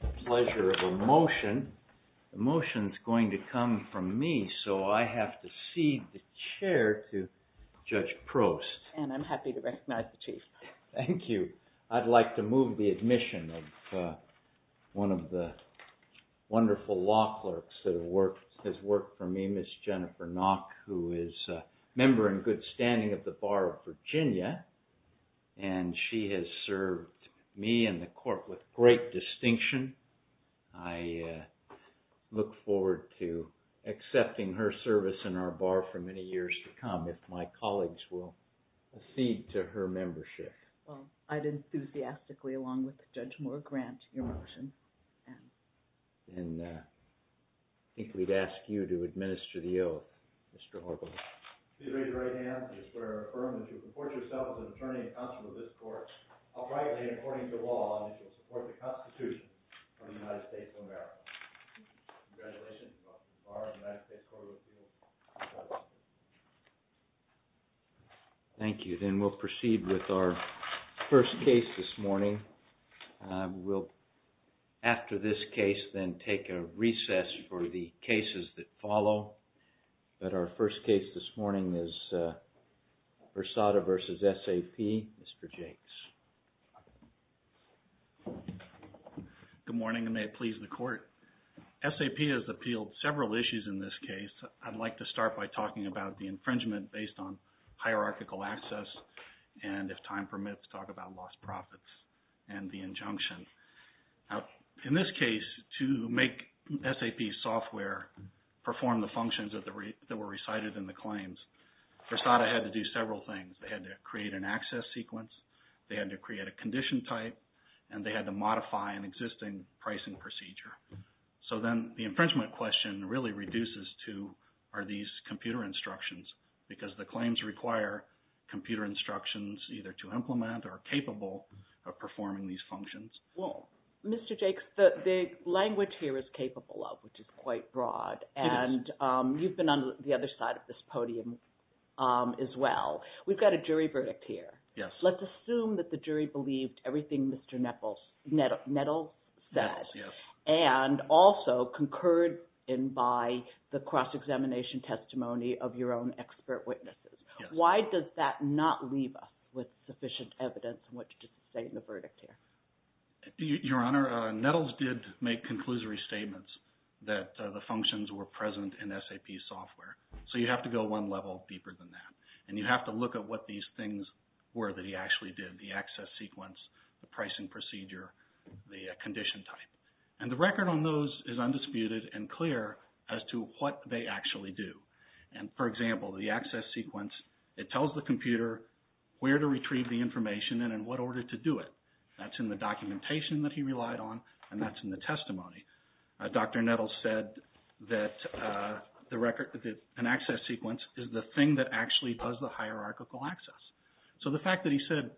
The pleasure of a motion. The motion is going to come from me, so I have to cede the chair to Judge Prost. And I'm happy to recognize the Chief. Thank you. I'd like to move the admission of one of the wonderful law clerks that has worked for me, Ms. Jennifer Nock, who is a member in good standing of the Bar of Virginia, and she has served me and the Court with great distinction. I look forward to accepting her service in our Bar for many years to come if my colleagues will cede to her membership. Well, I'd enthusiastically, along with Judge Moore, grant your motion. And I think we'd ask you to administer the oath, Mr. Horvitz. Please raise your right hand. I just want to affirm that if you comport yourself as an attorney and counsel to this Court, I'll privately and according to law issue a support to the Constitution of the United States of America. Congratulations to the Bar of the United States Court of Appeals. Thank you. Then we'll proceed with our first case this morning. We'll, after this case, then take a recess for the cases that follow. But our first case this morning is Versada v. SAP. Mr. Jakes. Good morning, and may it please the Court. SAP has appealed several issues in this case. I'd like to start by talking about the infringement based on hierarchical access, and if time permits, talk about lost profits and the injunction. In this case, to make SAP software perform the functions that were recited in the claims, Versada had to do several things. They had to create an access sequence, they had to create a condition type, and they had to modify an existing pricing procedure. So then the infringement question really reduces to, are these computer instructions? Because the claims require computer instructions either to implement or capable of performing these functions. Well, Mr. Jakes, the language here is capable of, which is quite broad, and you've been on the other side of this podium as well. We've got a jury verdict here. Yes. Let's assume that the jury believed everything Mr. Nettles said, and also concurred in by the cross-examination testimony of your own expert witnesses. Why does that not leave us with sufficient evidence in which to state the verdict here? Your Honor, Nettles did make conclusory statements that the functions were present in SAP software. So you have to go one level deeper than that, and you have to look at what these things were that he actually did, the access sequence, the pricing procedure, the condition type. And the record on those is undisputed and clear as to what they actually do. And, for example, the access sequence, it tells the computer where to retrieve the information and in what order to do it. That's in the documentation that he relied on, and that's in the testimony. Dr. Nettles said that an access sequence is the thing that actually does the hierarchical access. So the fact that he said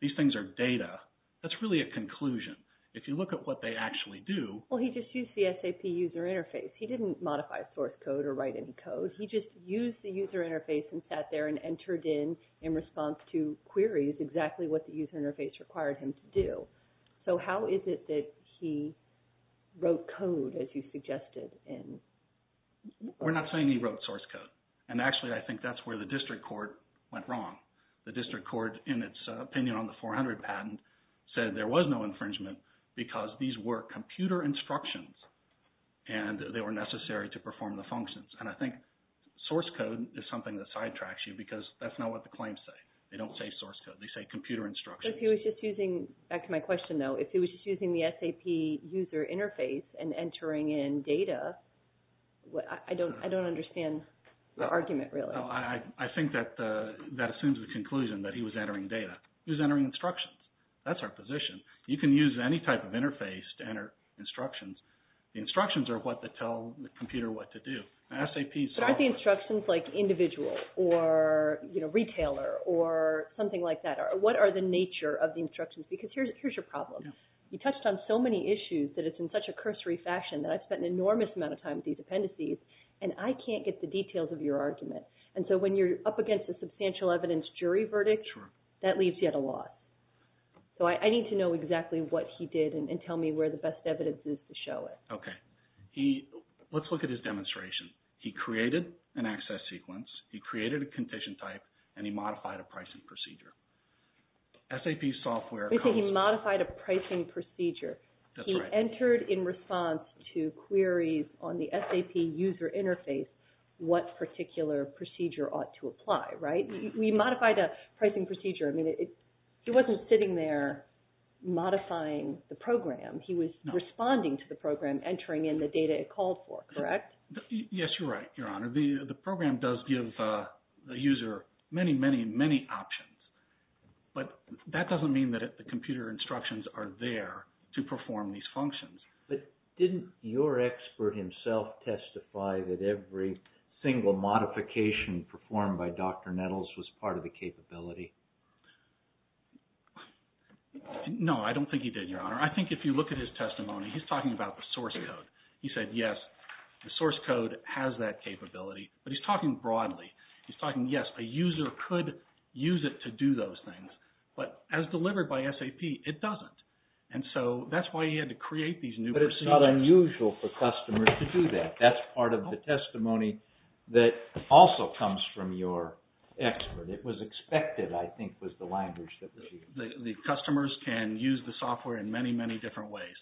these things are data, that's really a conclusion. If you look at what they actually do— Well, he just used the SAP user interface. He didn't modify source code or write any code. He just used the user interface and sat there and entered in, in response to queries, exactly what the user interface required him to do. So how is it that he wrote code, as you suggested? We're not saying he wrote source code. And, actually, I think that's where the district court went wrong. The district court, in its opinion on the 400 patent, said there was no infringement because these were computer instructions and they were necessary to perform the functions. And I think source code is something that sidetracks you because that's not what the claims say. They don't say source code. They say computer instructions. But if he was just using—back to my question, though. If he was just using the SAP user interface and entering in data, I don't understand the argument, really. I think that assumes the conclusion that he was entering data. He was entering instructions. That's our position. You can use any type of interface to enter instructions. The instructions are what tell the computer what to do. But aren't the instructions like individual or retailer or something like that? What are the nature of the instructions? Because here's your problem. You touched on so many issues that it's in such a cursory fashion that I've spent an enormous amount of time with these appendices and I can't get the details of your argument. And so when you're up against a substantial evidence jury verdict, that leaves you at a loss. So I need to know exactly what he did and tell me where the best evidence is to show it. Okay. Let's look at his demonstration. He created an access sequence. He created a condition type and he modified a pricing procedure. SAP software comes- He modified a pricing procedure. That's right. He entered in response to queries on the SAP user interface what particular procedure ought to apply, right? He modified a pricing procedure. I mean, he wasn't sitting there modifying the program. He was responding to the program, entering in the data it called for, correct? Yes, you're right, Your Honor. The program does give the user many, many, many options. But that doesn't mean that the computer instructions are there to perform these functions. But didn't your expert himself testify that every single modification performed by Dr. Nettles was part of the capability? No, I don't think he did, Your Honor. I think if you look at his testimony, he's talking about the source code. He said, yes, the source code has that capability. But he's talking broadly. He's talking, yes, a user could use it to do those things. But as delivered by SAP, it doesn't. And so that's why he had to create these new procedures. But it's not unusual for customers to do that. That's part of the testimony that also comes from your expert. It was expected, I think, was the language that was used. The customers can use the software in many, many different ways.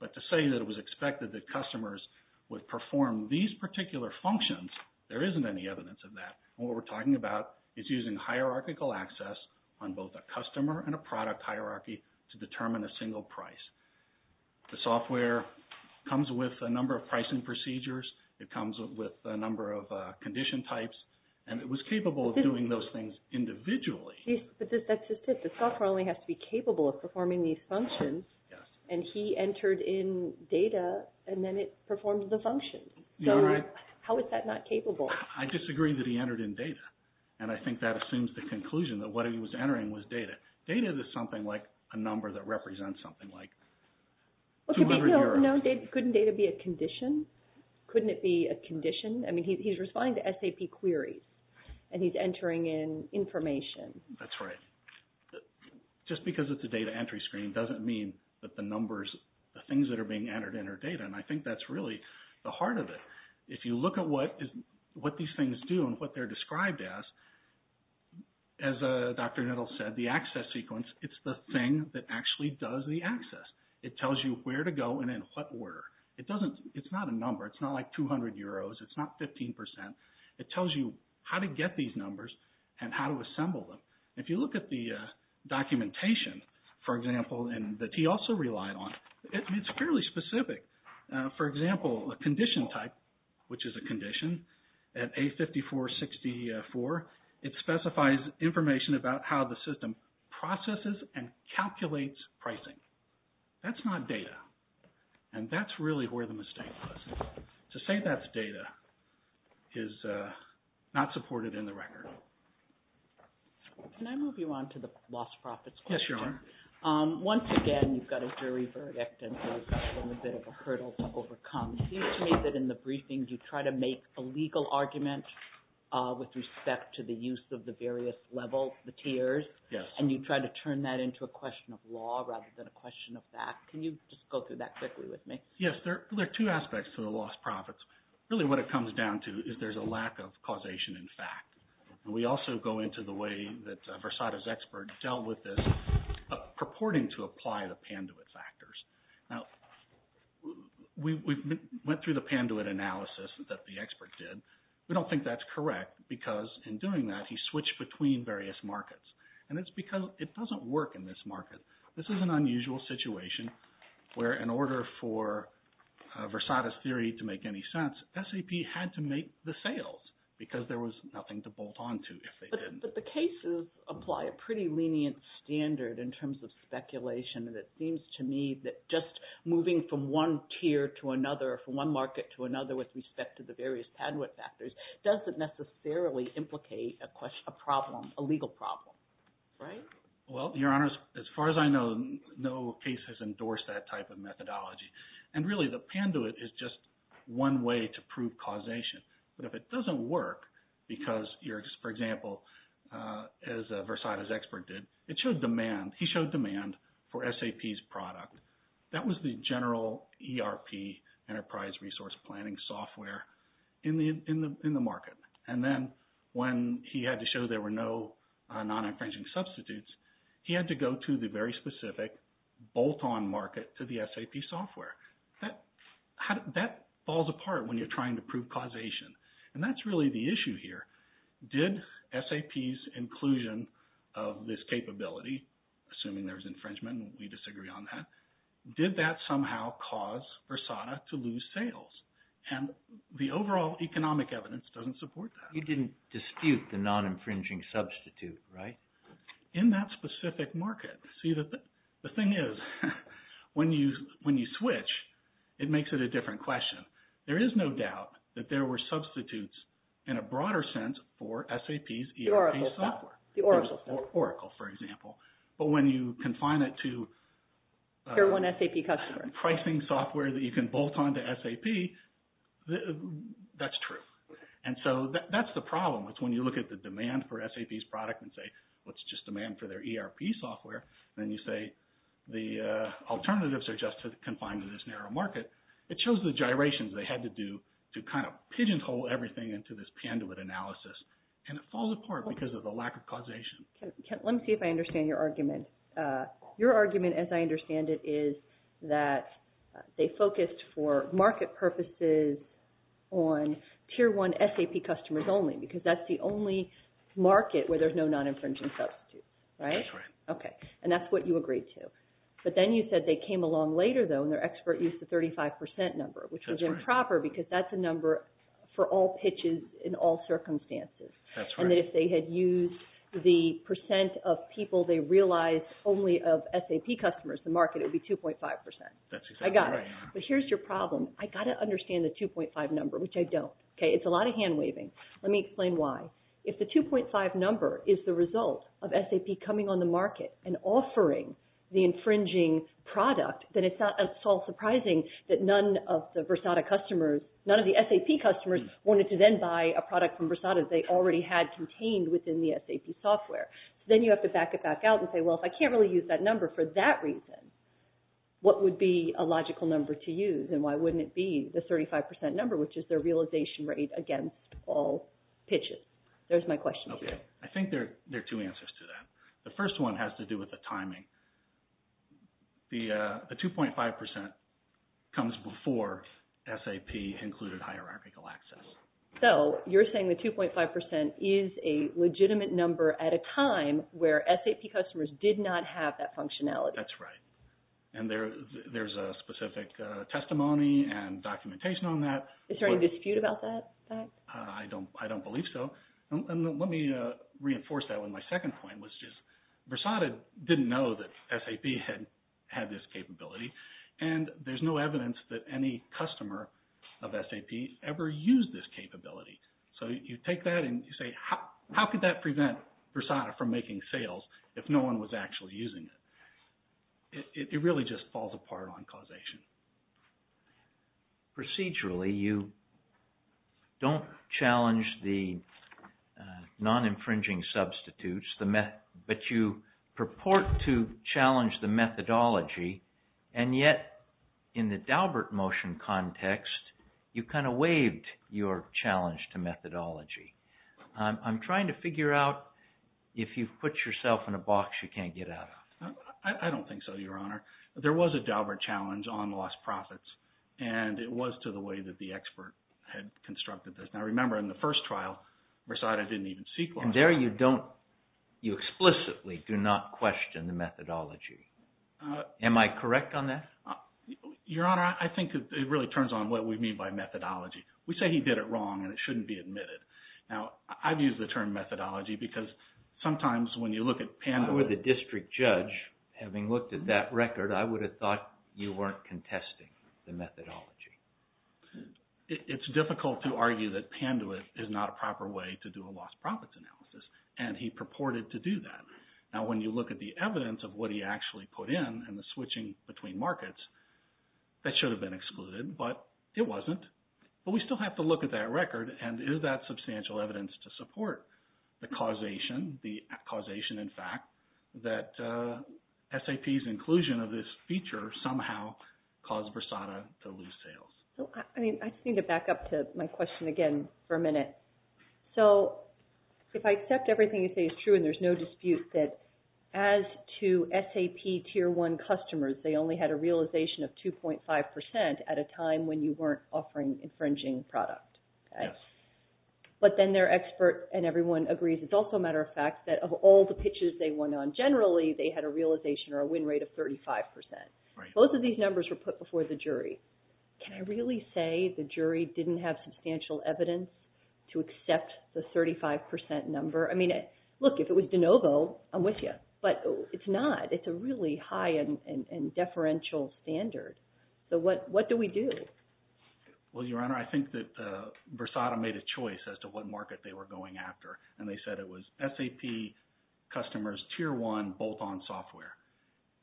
But to say that it was expected that customers would perform these particular functions, there isn't any evidence of that. What we're talking about is using hierarchical access on both a customer and a product hierarchy to determine a single price. The software comes with a number of pricing procedures. It comes with a number of condition types. And it was capable of doing those things individually. But that's just it. The software only has to be capable of performing these functions. And he entered in data. And then it performed the function. So how is that not capable? I disagree that he entered in data. And I think that assumes the conclusion that what he was entering was data. Data is something like a number that represents something like 200 euros. Couldn't data be a condition? Couldn't it be a condition? I mean, he's responding to SAP query. And he's entering in information. That's right. Just because it's a data entry screen doesn't mean that the numbers, the things that are being entered in are data. And I think that's really the heart of it. If you look at what these things do and what they're described as, as Dr. Nettle said, the access sequence, it's the thing that actually does the access. It tells you where to go and in what order. It's not a number. It's not like 200 euros. It's not 15%. It tells you how to get these numbers and how to assemble them. If you look at the documentation, for example, that he also relied on, it's fairly specific. For example, a condition type, which is a condition, at A5464, it specifies information about how the system processes and calculates pricing. That's not data. And that's really where the mistake was. To say that's data is not supported in the record. Can I move you on to the lost profits question? Yes, you are. Once again, you've got a jury verdict and there's a bit of a hurdle to overcome. It seems to me that in the briefings you try to make a legal argument with respect to the use of the various levels, the tiers. And you try to turn that into a question of law rather than a question of fact. Can you just go through that quickly with me? Yes, there are two aspects to the lost profits. Really what it comes down to is there's a lack of causation in fact. We also go into the way that Versada's expert dealt with this purporting to apply the Panduit factors. Now, we went through the Panduit analysis that the expert did. We don't think that's correct because in doing that he switched between various markets. And it's because it doesn't work in this market. This is an unusual situation where in order for Versada's theory to make any sense, SAP had to make the sales because there was nothing to bolt on to if they didn't. But the cases apply a pretty lenient standard in terms of speculation. And it seems to me that just moving from one tier to another or from one market to another with respect to the various Panduit factors doesn't necessarily implicate a problem, a legal problem, right? Well, your honors, as far as I know, no case has endorsed that type of methodology. And really the Panduit is just one way to prove causation. But if it doesn't work because you're – for example, as Versada's expert did, it showed demand. He showed demand for SAP's product. That was the general ERP, enterprise resource planning software in the market. And then when he had to show there were no non-infringing substitutes, he had to go to the very specific bolt-on market to the SAP software. That falls apart when you're trying to prove causation. And that's really the issue here. Did SAP's inclusion of this capability, assuming there was infringement and we disagree on that, did that somehow cause Versada to lose sales? And the overall economic evidence doesn't support that. You didn't dispute the non-infringing substitute, right? In that specific market. See, the thing is when you switch, it makes it a different question. There is no doubt that there were substitutes in a broader sense for SAP's ERP software. The Oracle software. Oracle, for example. But when you confine it to – Tier 1 SAP customer. Tier 1 pricing software that you can bolt on to SAP, that's true. And so that's the problem. It's when you look at the demand for SAP's product and say, well, it's just demand for their ERP software. Then you say the alternatives are just confined to this narrow market. It shows the gyrations they had to do to kind of pigeonhole everything into this Panduit analysis. And it falls apart because of the lack of causation. Let me see if I understand your argument. Your argument, as I understand it, is that they focused for market purposes on Tier 1 SAP customers only. Because that's the only market where there's no non-infringing substitute, right? That's right. Okay, and that's what you agreed to. But then you said they came along later, though, and their expert used the 35% number. Which was improper because that's a number for all pitches in all circumstances. That's right. And that if they had used the percent of people they realized only of SAP customers, the market would be 2.5%. That's exactly right. I got it. But here's your problem. I've got to understand the 2.5 number, which I don't. Okay, it's a lot of hand-waving. Let me explain why. If the 2.5 number is the result of SAP coming on the market and offering the infringing product, then it's not at all surprising that none of the Versata customers, none of the SAP customers, wanted to then buy a product from Versata they already had contained within the SAP software. Then you have to back it back out and say, well, if I can't really use that number for that reason, what would be a logical number to use and why wouldn't it be the 35% number, which is their realization rate against all pitches? There's my question. Okay. I think there are two answers to that. The first one has to do with the timing. The 2.5% comes before SAP included hierarchical access. So you're saying the 2.5% is a legitimate number at a time where SAP customers did not have that functionality. That's right. And there's a specific testimony and documentation on that. Is there any dispute about that? I don't believe so. Let me reinforce that with my second point, which is Versata didn't know that SAP had this capability, and there's no evidence that any customer of SAP ever used this capability. So you take that and you say, how could that prevent Versata from making sales if no one was actually using it? It really just falls apart on causation. Procedurally, you don't challenge the non-infringing substitutes, but you purport to challenge the methodology, and yet in the Daubert motion context, you kind of waived your challenge to methodology. I'm trying to figure out if you've put yourself in a box you can't get out of. I don't think so, Your Honor. There was a Daubert challenge on lost profits, and it was to the way that the expert had constructed this. Now, remember, in the first trial, Versata didn't even seek loss. And there you explicitly do not question the methodology. Am I correct on that? Your Honor, I think it really turns on what we mean by methodology. We say he did it wrong, and it shouldn't be admitted. Now, I've used the term methodology because sometimes when you look at Pandora— I would have thought you weren't contesting the methodology. It's difficult to argue that Pandora is not a proper way to do a lost profits analysis, and he purported to do that. Now, when you look at the evidence of what he actually put in and the switching between markets, that should have been excluded, but it wasn't. But we still have to look at that record, and is that substantial evidence to support the causation? The causation, in fact, that SAP's inclusion of this feature somehow caused Versata to lose sales. I just need to back up to my question again for a minute. So if I accept everything you say is true and there's no dispute that as to SAP Tier 1 customers, they only had a realization of 2.5 percent at a time when you weren't offering infringing product. Yes. But then their expert and everyone agrees it's also a matter of fact that of all the pitches they went on, generally they had a realization or a win rate of 35 percent. Right. Both of these numbers were put before the jury. Can I really say the jury didn't have substantial evidence to accept the 35 percent number? I mean, look, if it was De Novo, I'm with you, but it's not. It's a really high and deferential standard. So what do we do? Well, Your Honor, I think that Versata made a choice as to what market they were going after, and they said it was SAP customers Tier 1 bolt-on software.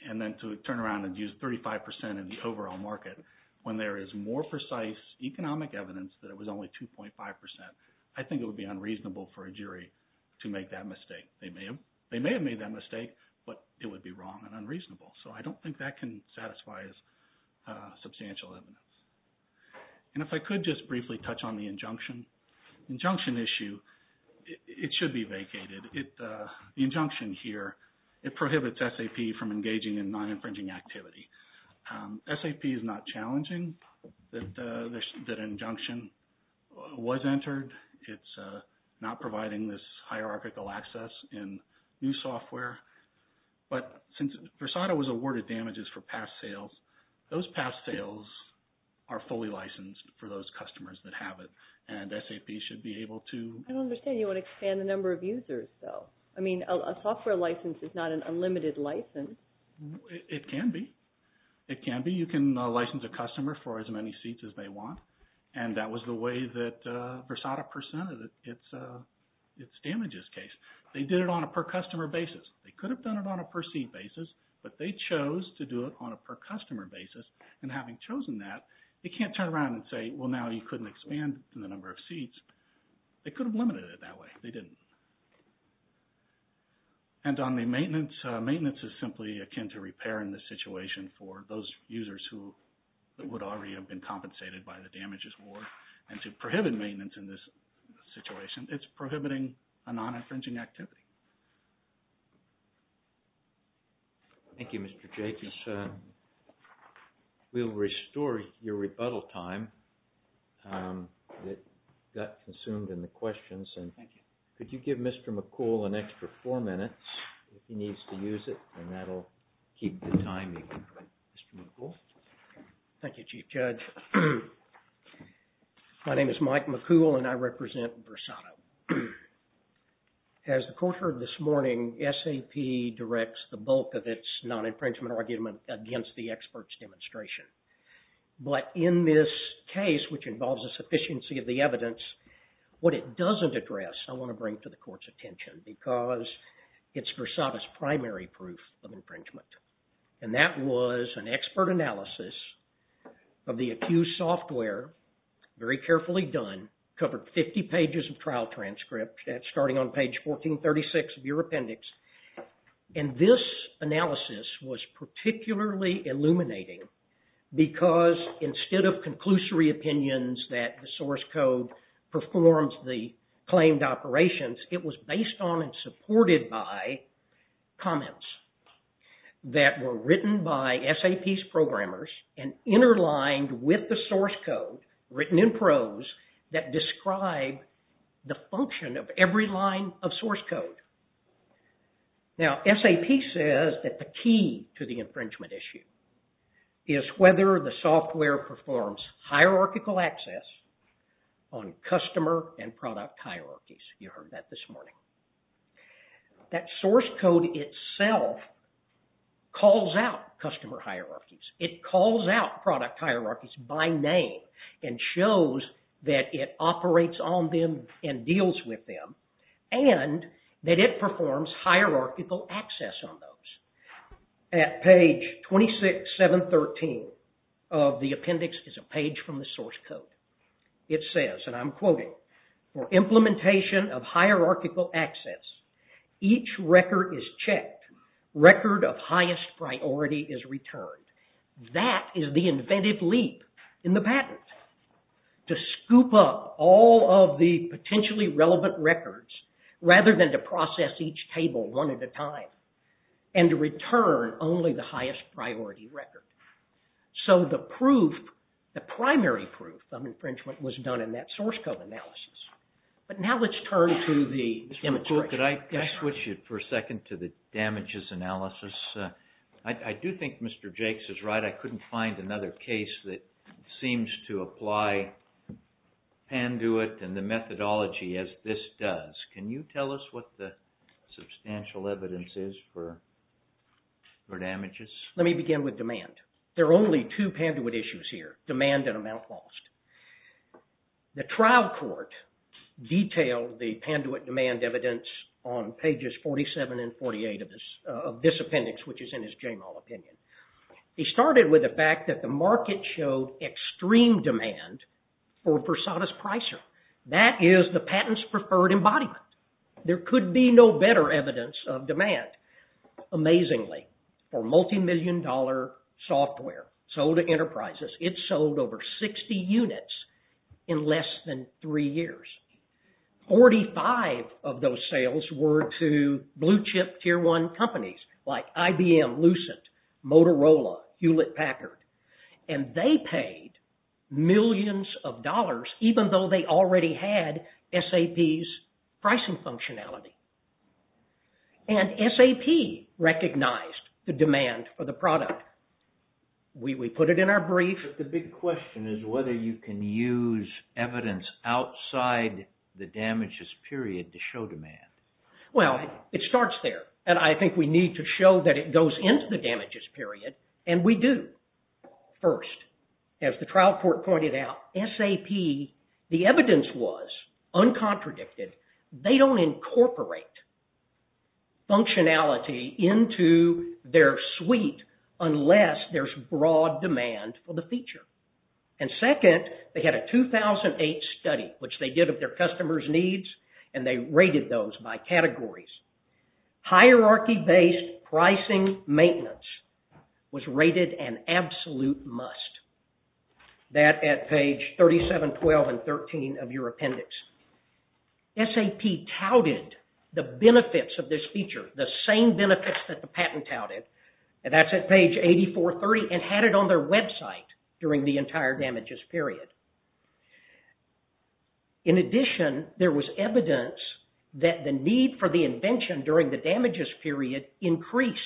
And then to turn around and use 35 percent in the overall market when there is more precise economic evidence that it was only 2.5 percent, I think it would be unreasonable for a jury to make that mistake. They may have made that mistake, but it would be wrong and unreasonable. So I don't think that can satisfy as substantial evidence. And if I could just briefly touch on the injunction. The injunction issue, it should be vacated. The injunction here, it prohibits SAP from engaging in non-infringing activity. SAP is not challenging that an injunction was entered. It's not providing this hierarchical access in new software. But since Versata was awarded damages for past sales, those past sales are fully licensed for those customers that have it, and SAP should be able to… I don't understand. You want to expand the number of users, though. I mean, a software license is not an unlimited license. It can be. It can be. You can license a customer for as many seats as they want. And that was the way that Versata presented its damages case. They did it on a per-customer basis. They could have done it on a per-seat basis, but they chose to do it on a per-customer basis. And having chosen that, they can't turn around and say, well, now you couldn't expand the number of seats. They could have limited it that way. They didn't. And on the maintenance, maintenance is simply akin to repair in this situation for those users who would already have been compensated by the damages award. And to prohibit maintenance in this situation, it's prohibiting a non-infringing activity. Thank you, Mr. Jacobs. We'll restore your rebuttal time. It got consumed in the questions. Thank you. Could you give Mr. McCool an extra four minutes if he needs to use it? And that'll keep the timing. Mr. McCool? Thank you, Chief Judge. My name is Mike McCool, and I represent Versata. As the court heard this morning, SAP directs the bulk of its non-infringement argument against the experts' demonstration. But in this case, which involves a sufficiency of the evidence, what it doesn't address I want to bring to the court's attention because it's Versata's primary proof of infringement. And that was an expert analysis of the accused software, very carefully done, covered 50 pages of trial transcript, starting on page 1436 of your appendix. And this analysis was particularly illuminating because instead of conclusory opinions that the source code performs the claimed operations, it was based on and supported by comments that were written by SAP's programmers and interlined with the source code written in prose that describe the function of every line of source code. Now, SAP says that the key to the infringement issue is whether the software performs hierarchical access on customer and product hierarchies. You heard that this morning. That source code itself calls out customer hierarchies. It calls out product hierarchies by name and shows that it operates on them and deals with them, and that it performs hierarchical access on those. At page 26713 of the appendix is a page from the source code. It says, and I'm quoting, for implementation of hierarchical access, each record is checked, record of highest priority is returned. That is the inventive leap in the patent, to scoop up all of the potentially relevant records rather than to process each table one at a time and to return only the highest priority record. So the proof, the primary proof of infringement was done in that source code analysis. But now let's turn to the demonstration. Could I switch it for a second to the damages analysis? I do think Mr. Jakes is right. I couldn't find another case that seems to apply Panduit and the methodology as this does. Can you tell us what the substantial evidence is for damages? Let me begin with demand. There are only two Panduit issues here, demand and amount lost. The trial court detailed the Panduit demand evidence on pages 47 and 48 of this appendix, which is in his Jamal opinion. He started with the fact that the market showed extreme demand for Versada's Pricer. That is the patent's preferred embodiment. There could be no better evidence of demand. Amazingly, for multimillion dollar software sold to enterprises, it sold over 60 units in less than three years. Forty-five of those sales were to blue chip tier one companies like IBM, Lucent, Motorola, Hewlett Packard. They paid millions of dollars even though they already had SAP's pricing functionality. SAP recognized the demand for the product. We put it in our brief. The big question is whether you can use evidence outside the damages period to show demand. Well, it starts there. I think we need to show that it goes into the damages period, and we do. First, as the trial court pointed out, SAP, the evidence was uncontradicted. They don't incorporate functionality into their suite unless there's broad demand for the feature. And second, they had a 2008 study, which they did of their customers' needs, and they rated those by categories. Hierarchy-based pricing maintenance was rated an absolute must. That at page 3712 and 13 of your appendix. SAP touted the benefits of this feature, the same benefits that the patent touted, and that's at page 8430, and had it on their website during the entire damages period. In addition, there was evidence that the need for the invention during the damages period increased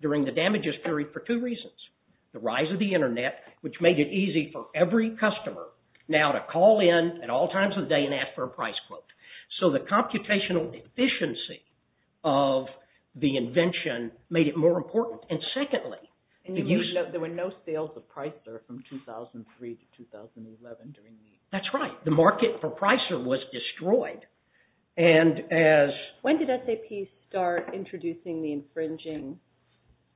during the damages period for two reasons. The rise of the internet, which made it easy for every customer now to call in at all times of the day and ask for a price quote. So the computational efficiency of the invention made it more important. There were no sales of Pricer from 2003 to 2011. That's right. The market for Pricer was destroyed. When did SAP start introducing the infringing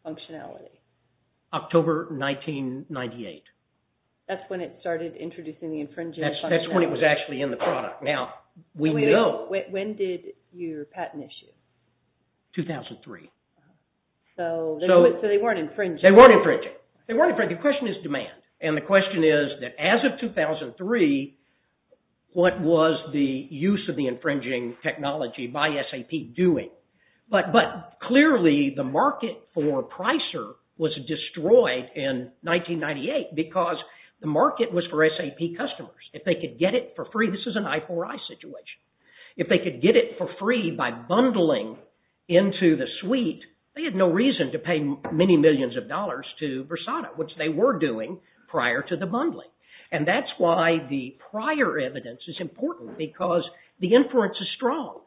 functionality? October 1998. That's when it started introducing the infringing functionality. That's when it was actually in the product. When did your patent issue? 2003. So they weren't infringing. They weren't infringing. The question is demand. And the question is that as of 2003, what was the use of the infringing technology by SAP doing? But clearly the market for Pricer was destroyed in 1998 because the market was for SAP customers. If they could get it for free, this is an I4I situation. If they could get it for free by bundling into the suite, they had no reason to pay many millions of dollars to Versada, which they were doing prior to the bundling. And that's why the prior evidence is important because the inference is strong.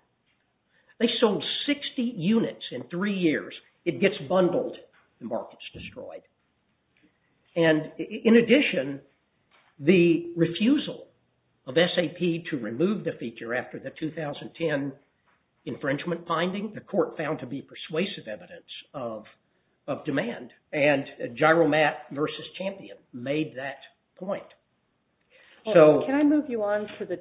They sold 60 units in three years. It gets bundled. The market's destroyed. And in addition, the refusal of SAP to remove the feature after the 2010 infringement finding, the court found to be persuasive evidence of demand. And Gyromat versus Champion made that point. Can I move you on to the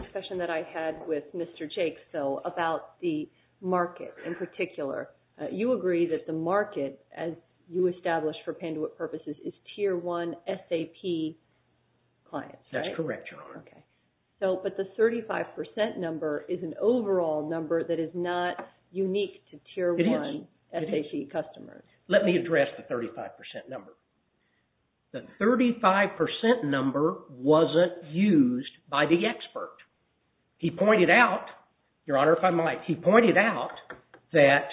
discussion that I had with Mr. Jakes, though, about the market in particular? You agree that the market, as you established for Panduit purposes, is Tier 1 SAP clients, right? That's correct, Your Honor. But the 35% number is an overall number that is not unique to Tier 1 SAP customers. It is. Let me address the 35% number. The 35% number wasn't used by the expert. He pointed out, Your Honor, if I might, he pointed out that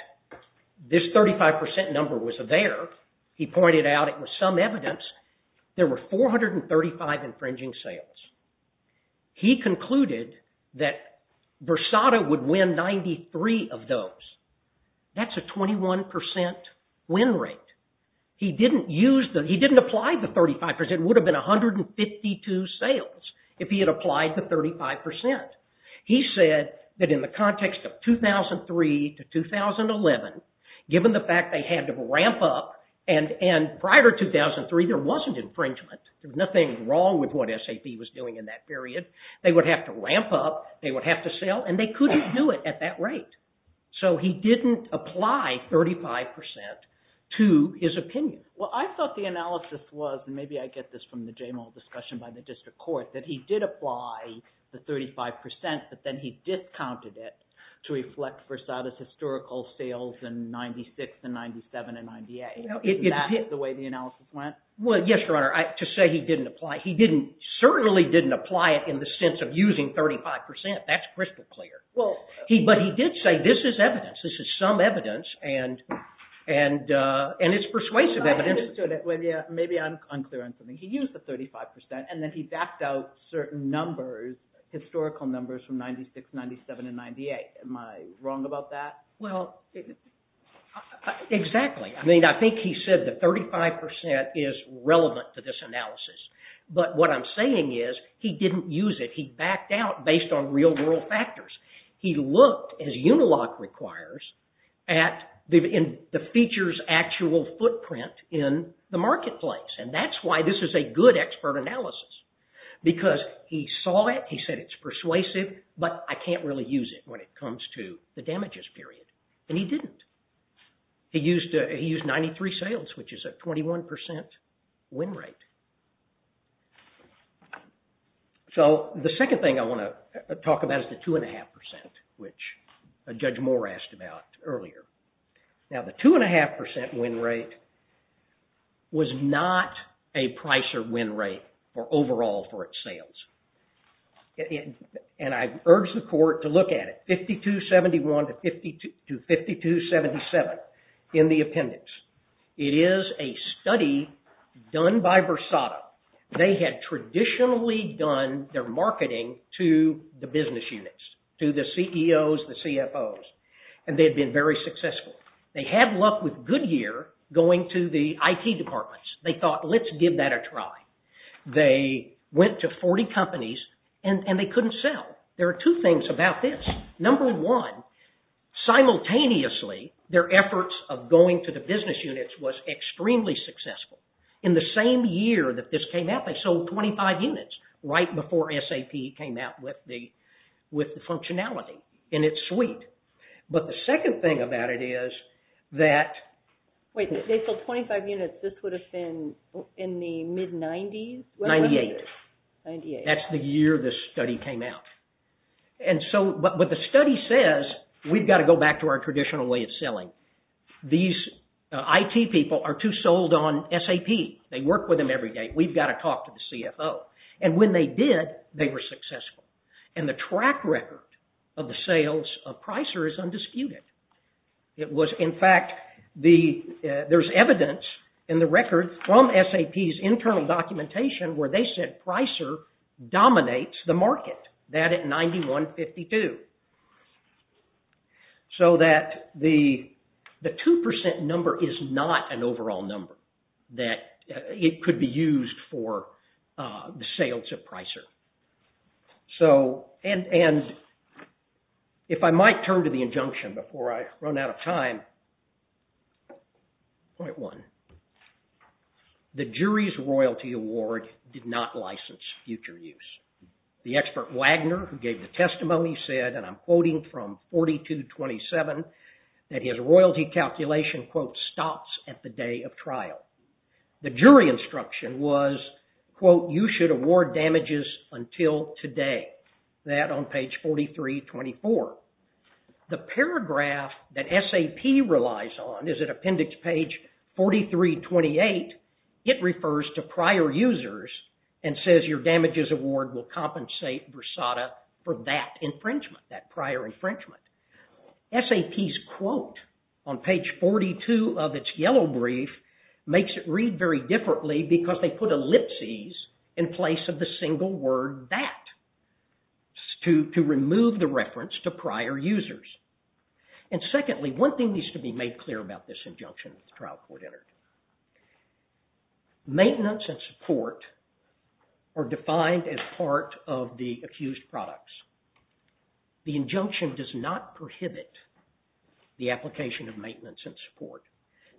this 35% number was there. He pointed out it was some evidence. There were 435 infringing sales. He concluded that Versada would win 93 of those. That's a 21% win rate. He didn't apply the 35%. It would have been 152 sales if he had applied the 35%. He said that in the context of 2003 to 2011, given the fact they had to ramp up, and prior to 2003, there wasn't infringement. There was nothing wrong with what SAP was doing in that period. They would have to ramp up. They would have to sell, and they couldn't do it at that rate. So he didn't apply 35% to his opinion. Well, I thought the analysis was, and maybe I get this from the Jamal discussion by the district court, that he did apply the 35%, but then he discounted it to reflect Versada's historical sales in 96 and 97 and 98. Isn't that the way the analysis went? Well, yes, Your Honor. To say he didn't apply, he certainly didn't apply it in the sense of using 35%. That's crystal clear. But he did say this is evidence. This is some evidence, and it's persuasive evidence. I understood it. Maybe I'm unclear on something. He used the 35%, and then he backed out certain numbers, historical numbers from 96, 97, and 98. Am I wrong about that? Well, exactly. I mean, I think he said the 35% is relevant to this analysis. But what I'm saying is he didn't use it. He backed out based on real-world factors. He looked, as Unilock requires, at the feature's actual footprint in the marketplace, and that's why this is a good expert analysis because he saw it. He said it's persuasive, but I can't really use it when it comes to the damages period, and he didn't. He used 93 sales, which is a 21% win rate. So the second thing I want to talk about is the 2.5%, which Judge Moore asked about earlier. Now, the 2.5% win rate was not a price or win rate overall for its sales. And I urge the court to look at it. 5271 to 5277 in the appendix. It is a study done by Versado. They had traditionally done their marketing to the business units, to the CEOs, the CFOs, and they had been very successful. They had luck with Goodyear going to the IT departments. They thought, let's give that a try. They went to 40 companies, and they couldn't sell. There are two things about this. Number one, simultaneously, their efforts of going to the business units was extremely successful. In the same year that this came out, they sold 25 units right before SAP came out with the functionality. And it's sweet. But the second thing about it is that... Wait, if they sold 25 units, this would have been in the mid-90s? 98. 98. That's the year this study came out. But the study says, we've got to go back to our traditional way of selling. These IT people are too sold on SAP. They work with them every day. We've got to talk to the CFO. And when they did, they were successful. And the track record of the sales of Pricer is undisputed. In fact, there's evidence in the record from SAP's internal documentation where they said Pricer dominates the market. That at 91.52. So that the 2% number is not an overall number. That it could be used for the sales of Pricer. And if I might turn to the injunction before I run out of time. Point one. The jury's royalty award did not license future use. The expert Wagner, who gave the testimony, said, and I'm quoting from 42.27, that his royalty calculation, quote, stops at the day of trial. The jury instruction was, quote, you should award damages until today. That on page 43.24. The paragraph that SAP relies on is at appendix page 43.28. It refers to prior users and says, your damages award will compensate Versada for that infringement. That prior infringement. SAP's quote on page 42 of its yellow brief makes it read very differently because they put ellipses in place of the single word that. To remove the reference to prior users. And secondly, one thing needs to be made clear about this injunction that the trial court entered. Maintenance and support are defined as part of the accused products. The injunction does not prohibit the application of maintenance and support.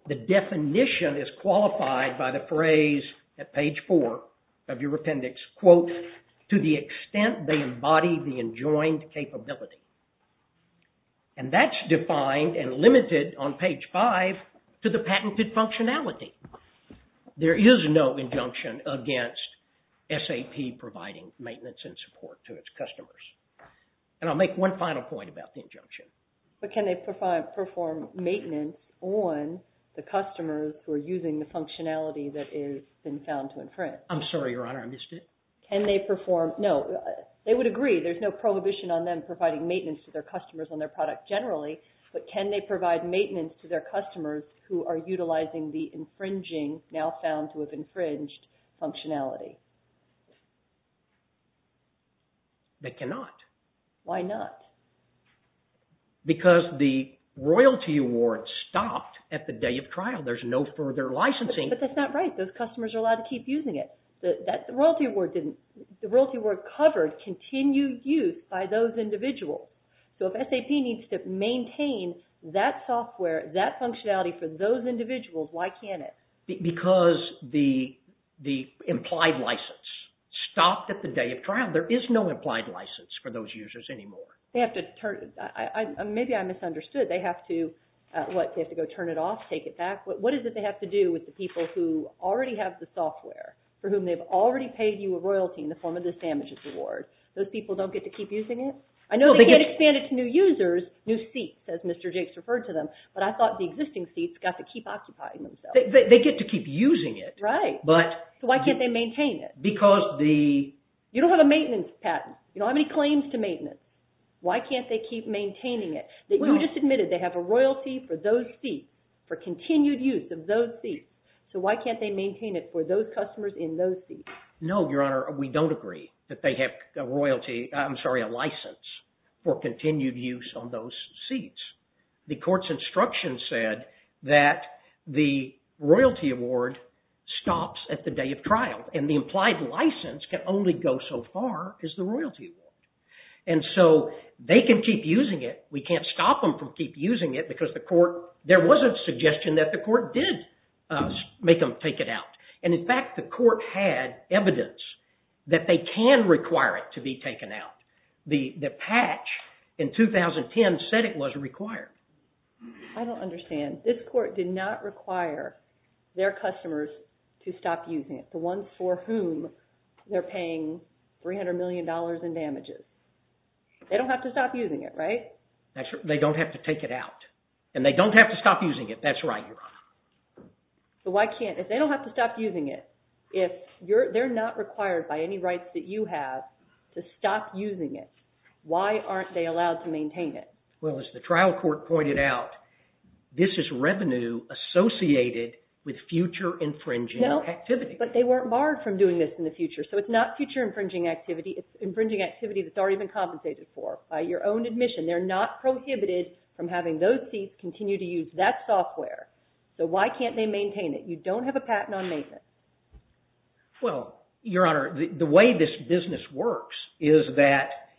The definition is qualified by the phrase at page four of your appendix, quote, to the extent they embody the enjoined capability. And that's defined and limited on page five to the patented functionality. There is no injunction against SAP providing maintenance and support to its customers. And I'll make one final point about the injunction. But can they perform maintenance on the customers who are using the functionality that has been found to infringe? I'm sorry, Your Honor, I missed it. Can they perform, no, they would agree. There's no prohibition on them providing maintenance to their customers on their product generally. But can they provide maintenance to their customers who are utilizing the infringing, now found to have infringed, functionality? They cannot. Why not? Because the royalty award stopped at the day of trial. There's no further licensing. But that's not right. Those customers are allowed to keep using it. The royalty award covered continued use by those individuals. So if SAP needs to maintain that software, that functionality for those individuals, why can't it? Because the implied license stopped at the day of trial. There is no implied license for those users anymore. Maybe I misunderstood. They have to, what, they have to go turn it off, take it back? What is it they have to do with the people who already have the software, for whom they've already paid you a royalty in the form of this damages award? Those people don't get to keep using it? I know they get expanded to new users, new seats, as Mr. Jakes referred to them, but I thought the existing seats got to keep occupying themselves. They get to keep using it. Right. So why can't they maintain it? Because the… You don't have a maintenance patent. You don't have any claims to maintenance. Why can't they keep maintaining it? You just admitted they have a royalty for those seats, for continued use of those seats. So why can't they maintain it for those customers in those seats? No, Your Honor, we don't agree that they have a license for continued use on those seats. The court's instruction said that the royalty award stops at the day of trial, and the implied license can only go so far as the royalty award. And so they can keep using it. We can't stop them from keep using it because the court… There was a suggestion that the court did make them take it out. And, in fact, the court had evidence that they can require it to be taken out. The patch in 2010 said it was required. I don't understand. This court did not require their customers to stop using it, the ones for whom they're paying $300 million in damages. They don't have to stop using it, right? They don't have to take it out. And they don't have to stop using it. That's right, Your Honor. So why can't they? If they don't have to stop using it, if they're not required by any rights that you have to stop using it, why aren't they allowed to maintain it? Well, as the trial court pointed out, this is revenue associated with future infringing activity. No, but they weren't barred from doing this in the future. So it's not future infringing activity. It's infringing activity that's already been compensated for by your own admission. They're not prohibited from having those thieves continue to use that software. So why can't they maintain it? You don't have a patent on maintenance. Well, Your Honor, the way this business works is that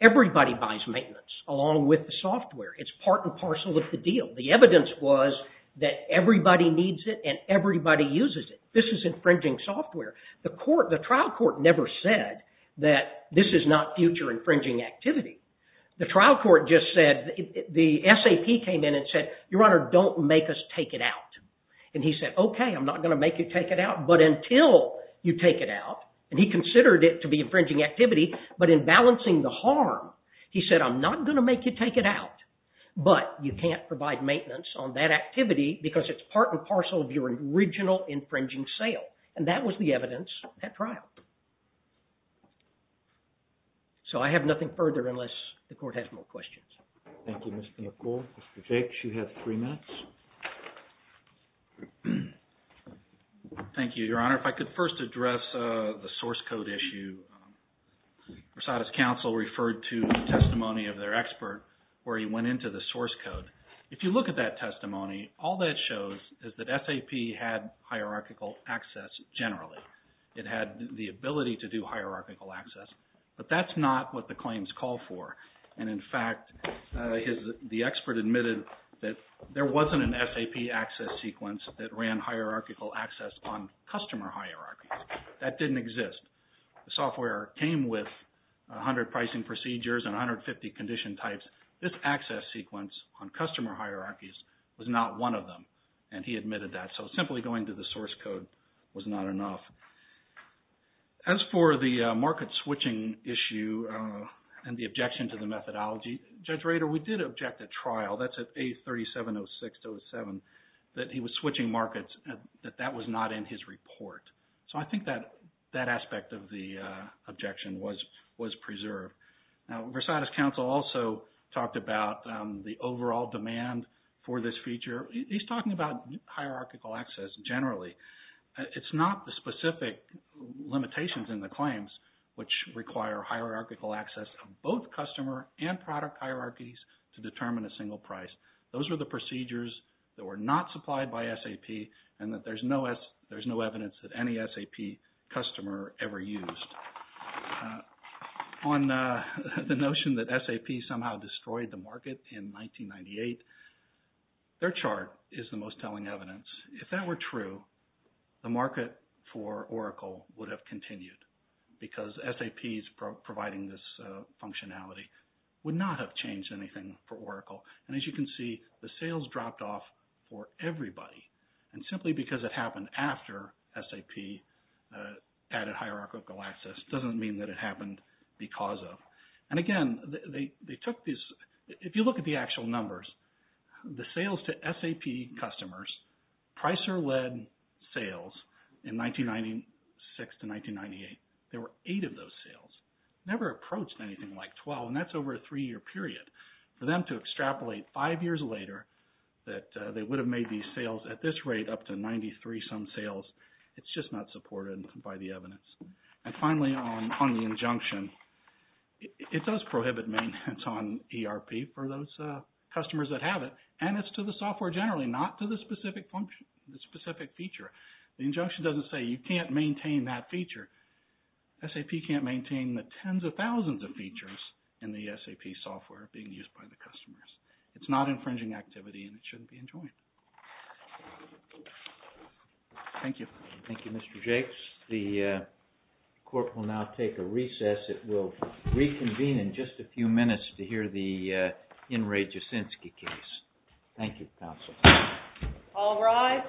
everybody buys maintenance, along with the software. It's part and parcel of the deal. The evidence was that everybody needs it and everybody uses it. This is infringing software. The trial court never said that this is not future infringing activity. The trial court just said, the SAP came in and said, Your Honor, don't make us take it out. And he said, OK, I'm not going to make you take it out. But until you take it out, and he considered it to be infringing activity, but in balancing the harm, he said, I'm not going to make you take it out. But you can't provide maintenance on that activity because it's part and parcel of your original infringing sale. And that was the evidence at trial. So I have nothing further unless the court has more questions. Thank you, Mr. McCall. Mr. Jakes, you have three minutes. Thank you, Your Honor. If I could first address the source code issue. Rosada's counsel referred to the testimony of their expert where he went into the source code. If you look at that testimony, all that shows is that SAP had hierarchical access generally. It had the ability to do hierarchical access. But that's not what the claims call for. And, in fact, the expert admitted that there wasn't an SAP access sequence that ran hierarchical access on customer hierarchies. That didn't exist. The software came with 100 pricing procedures and 150 condition types. And this access sequence on customer hierarchies was not one of them. And he admitted that. So simply going to the source code was not enough. As for the market switching issue and the objection to the methodology, Judge Rader, we did object at trial. That's at A370607 that he was switching markets, that that was not in his report. So I think that aspect of the objection was preserved. Now, Rosada's counsel also talked about the overall demand for this feature. He's talking about hierarchical access generally. It's not the specific limitations in the claims which require hierarchical access of both customer and product hierarchies to determine a single price. Those were the procedures that were not supplied by SAP and that there's no evidence that any SAP customer ever used. On the notion that SAP somehow destroyed the market in 1998, their chart is the most telling evidence. If that were true, the market for Oracle would have continued because SAP's providing this functionality would not have changed anything for Oracle. And as you can see, the sales dropped off for everybody. And simply because it happened after SAP added hierarchical access doesn't mean that it happened because of. And again, they took these – if you look at the actual numbers, the sales to SAP customers, Pricer-led sales in 1996 to 1998, there were eight of those sales. Never approached anything like 12, and that's over a three-year period. For them to extrapolate five years later that they would have made these sales at this rate up to 93-some sales, it's just not supported by the evidence. And finally, on the injunction, it does prohibit maintenance on ERP for those customers that have it, and it's to the software generally, not to the specific feature. The injunction doesn't say you can't maintain that feature. SAP can't maintain the tens of thousands of features in the SAP software being used by the customers. It's not infringing activity, and it shouldn't be enjoined. Thank you. Thank you, Mr. Jakes. The court will now take a recess. It will reconvene in just a few minutes to hear the In re Jaczynski case. Thank you, counsel. All rise.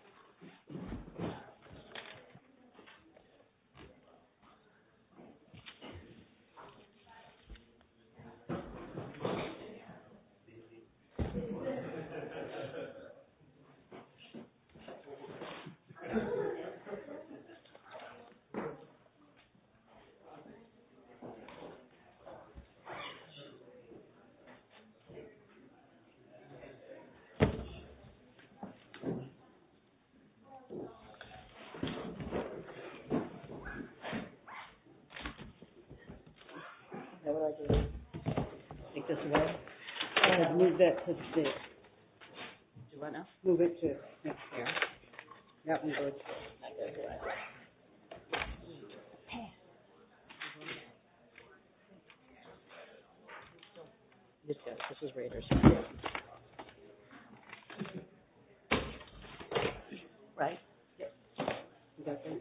Thank you. Thank you. Thank you. Thank you. This is Raiders, thank you. Right, yep. You got that?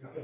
Yep. Thank you. Thank you. Thank you. Thank you. Thank you. Thank you. Thank you. Thank you. Thank you. Thank you. Thank you. Thank you. Thank you. Thank you. Thank you. Thank you. Thank you. Thank you. Thank you.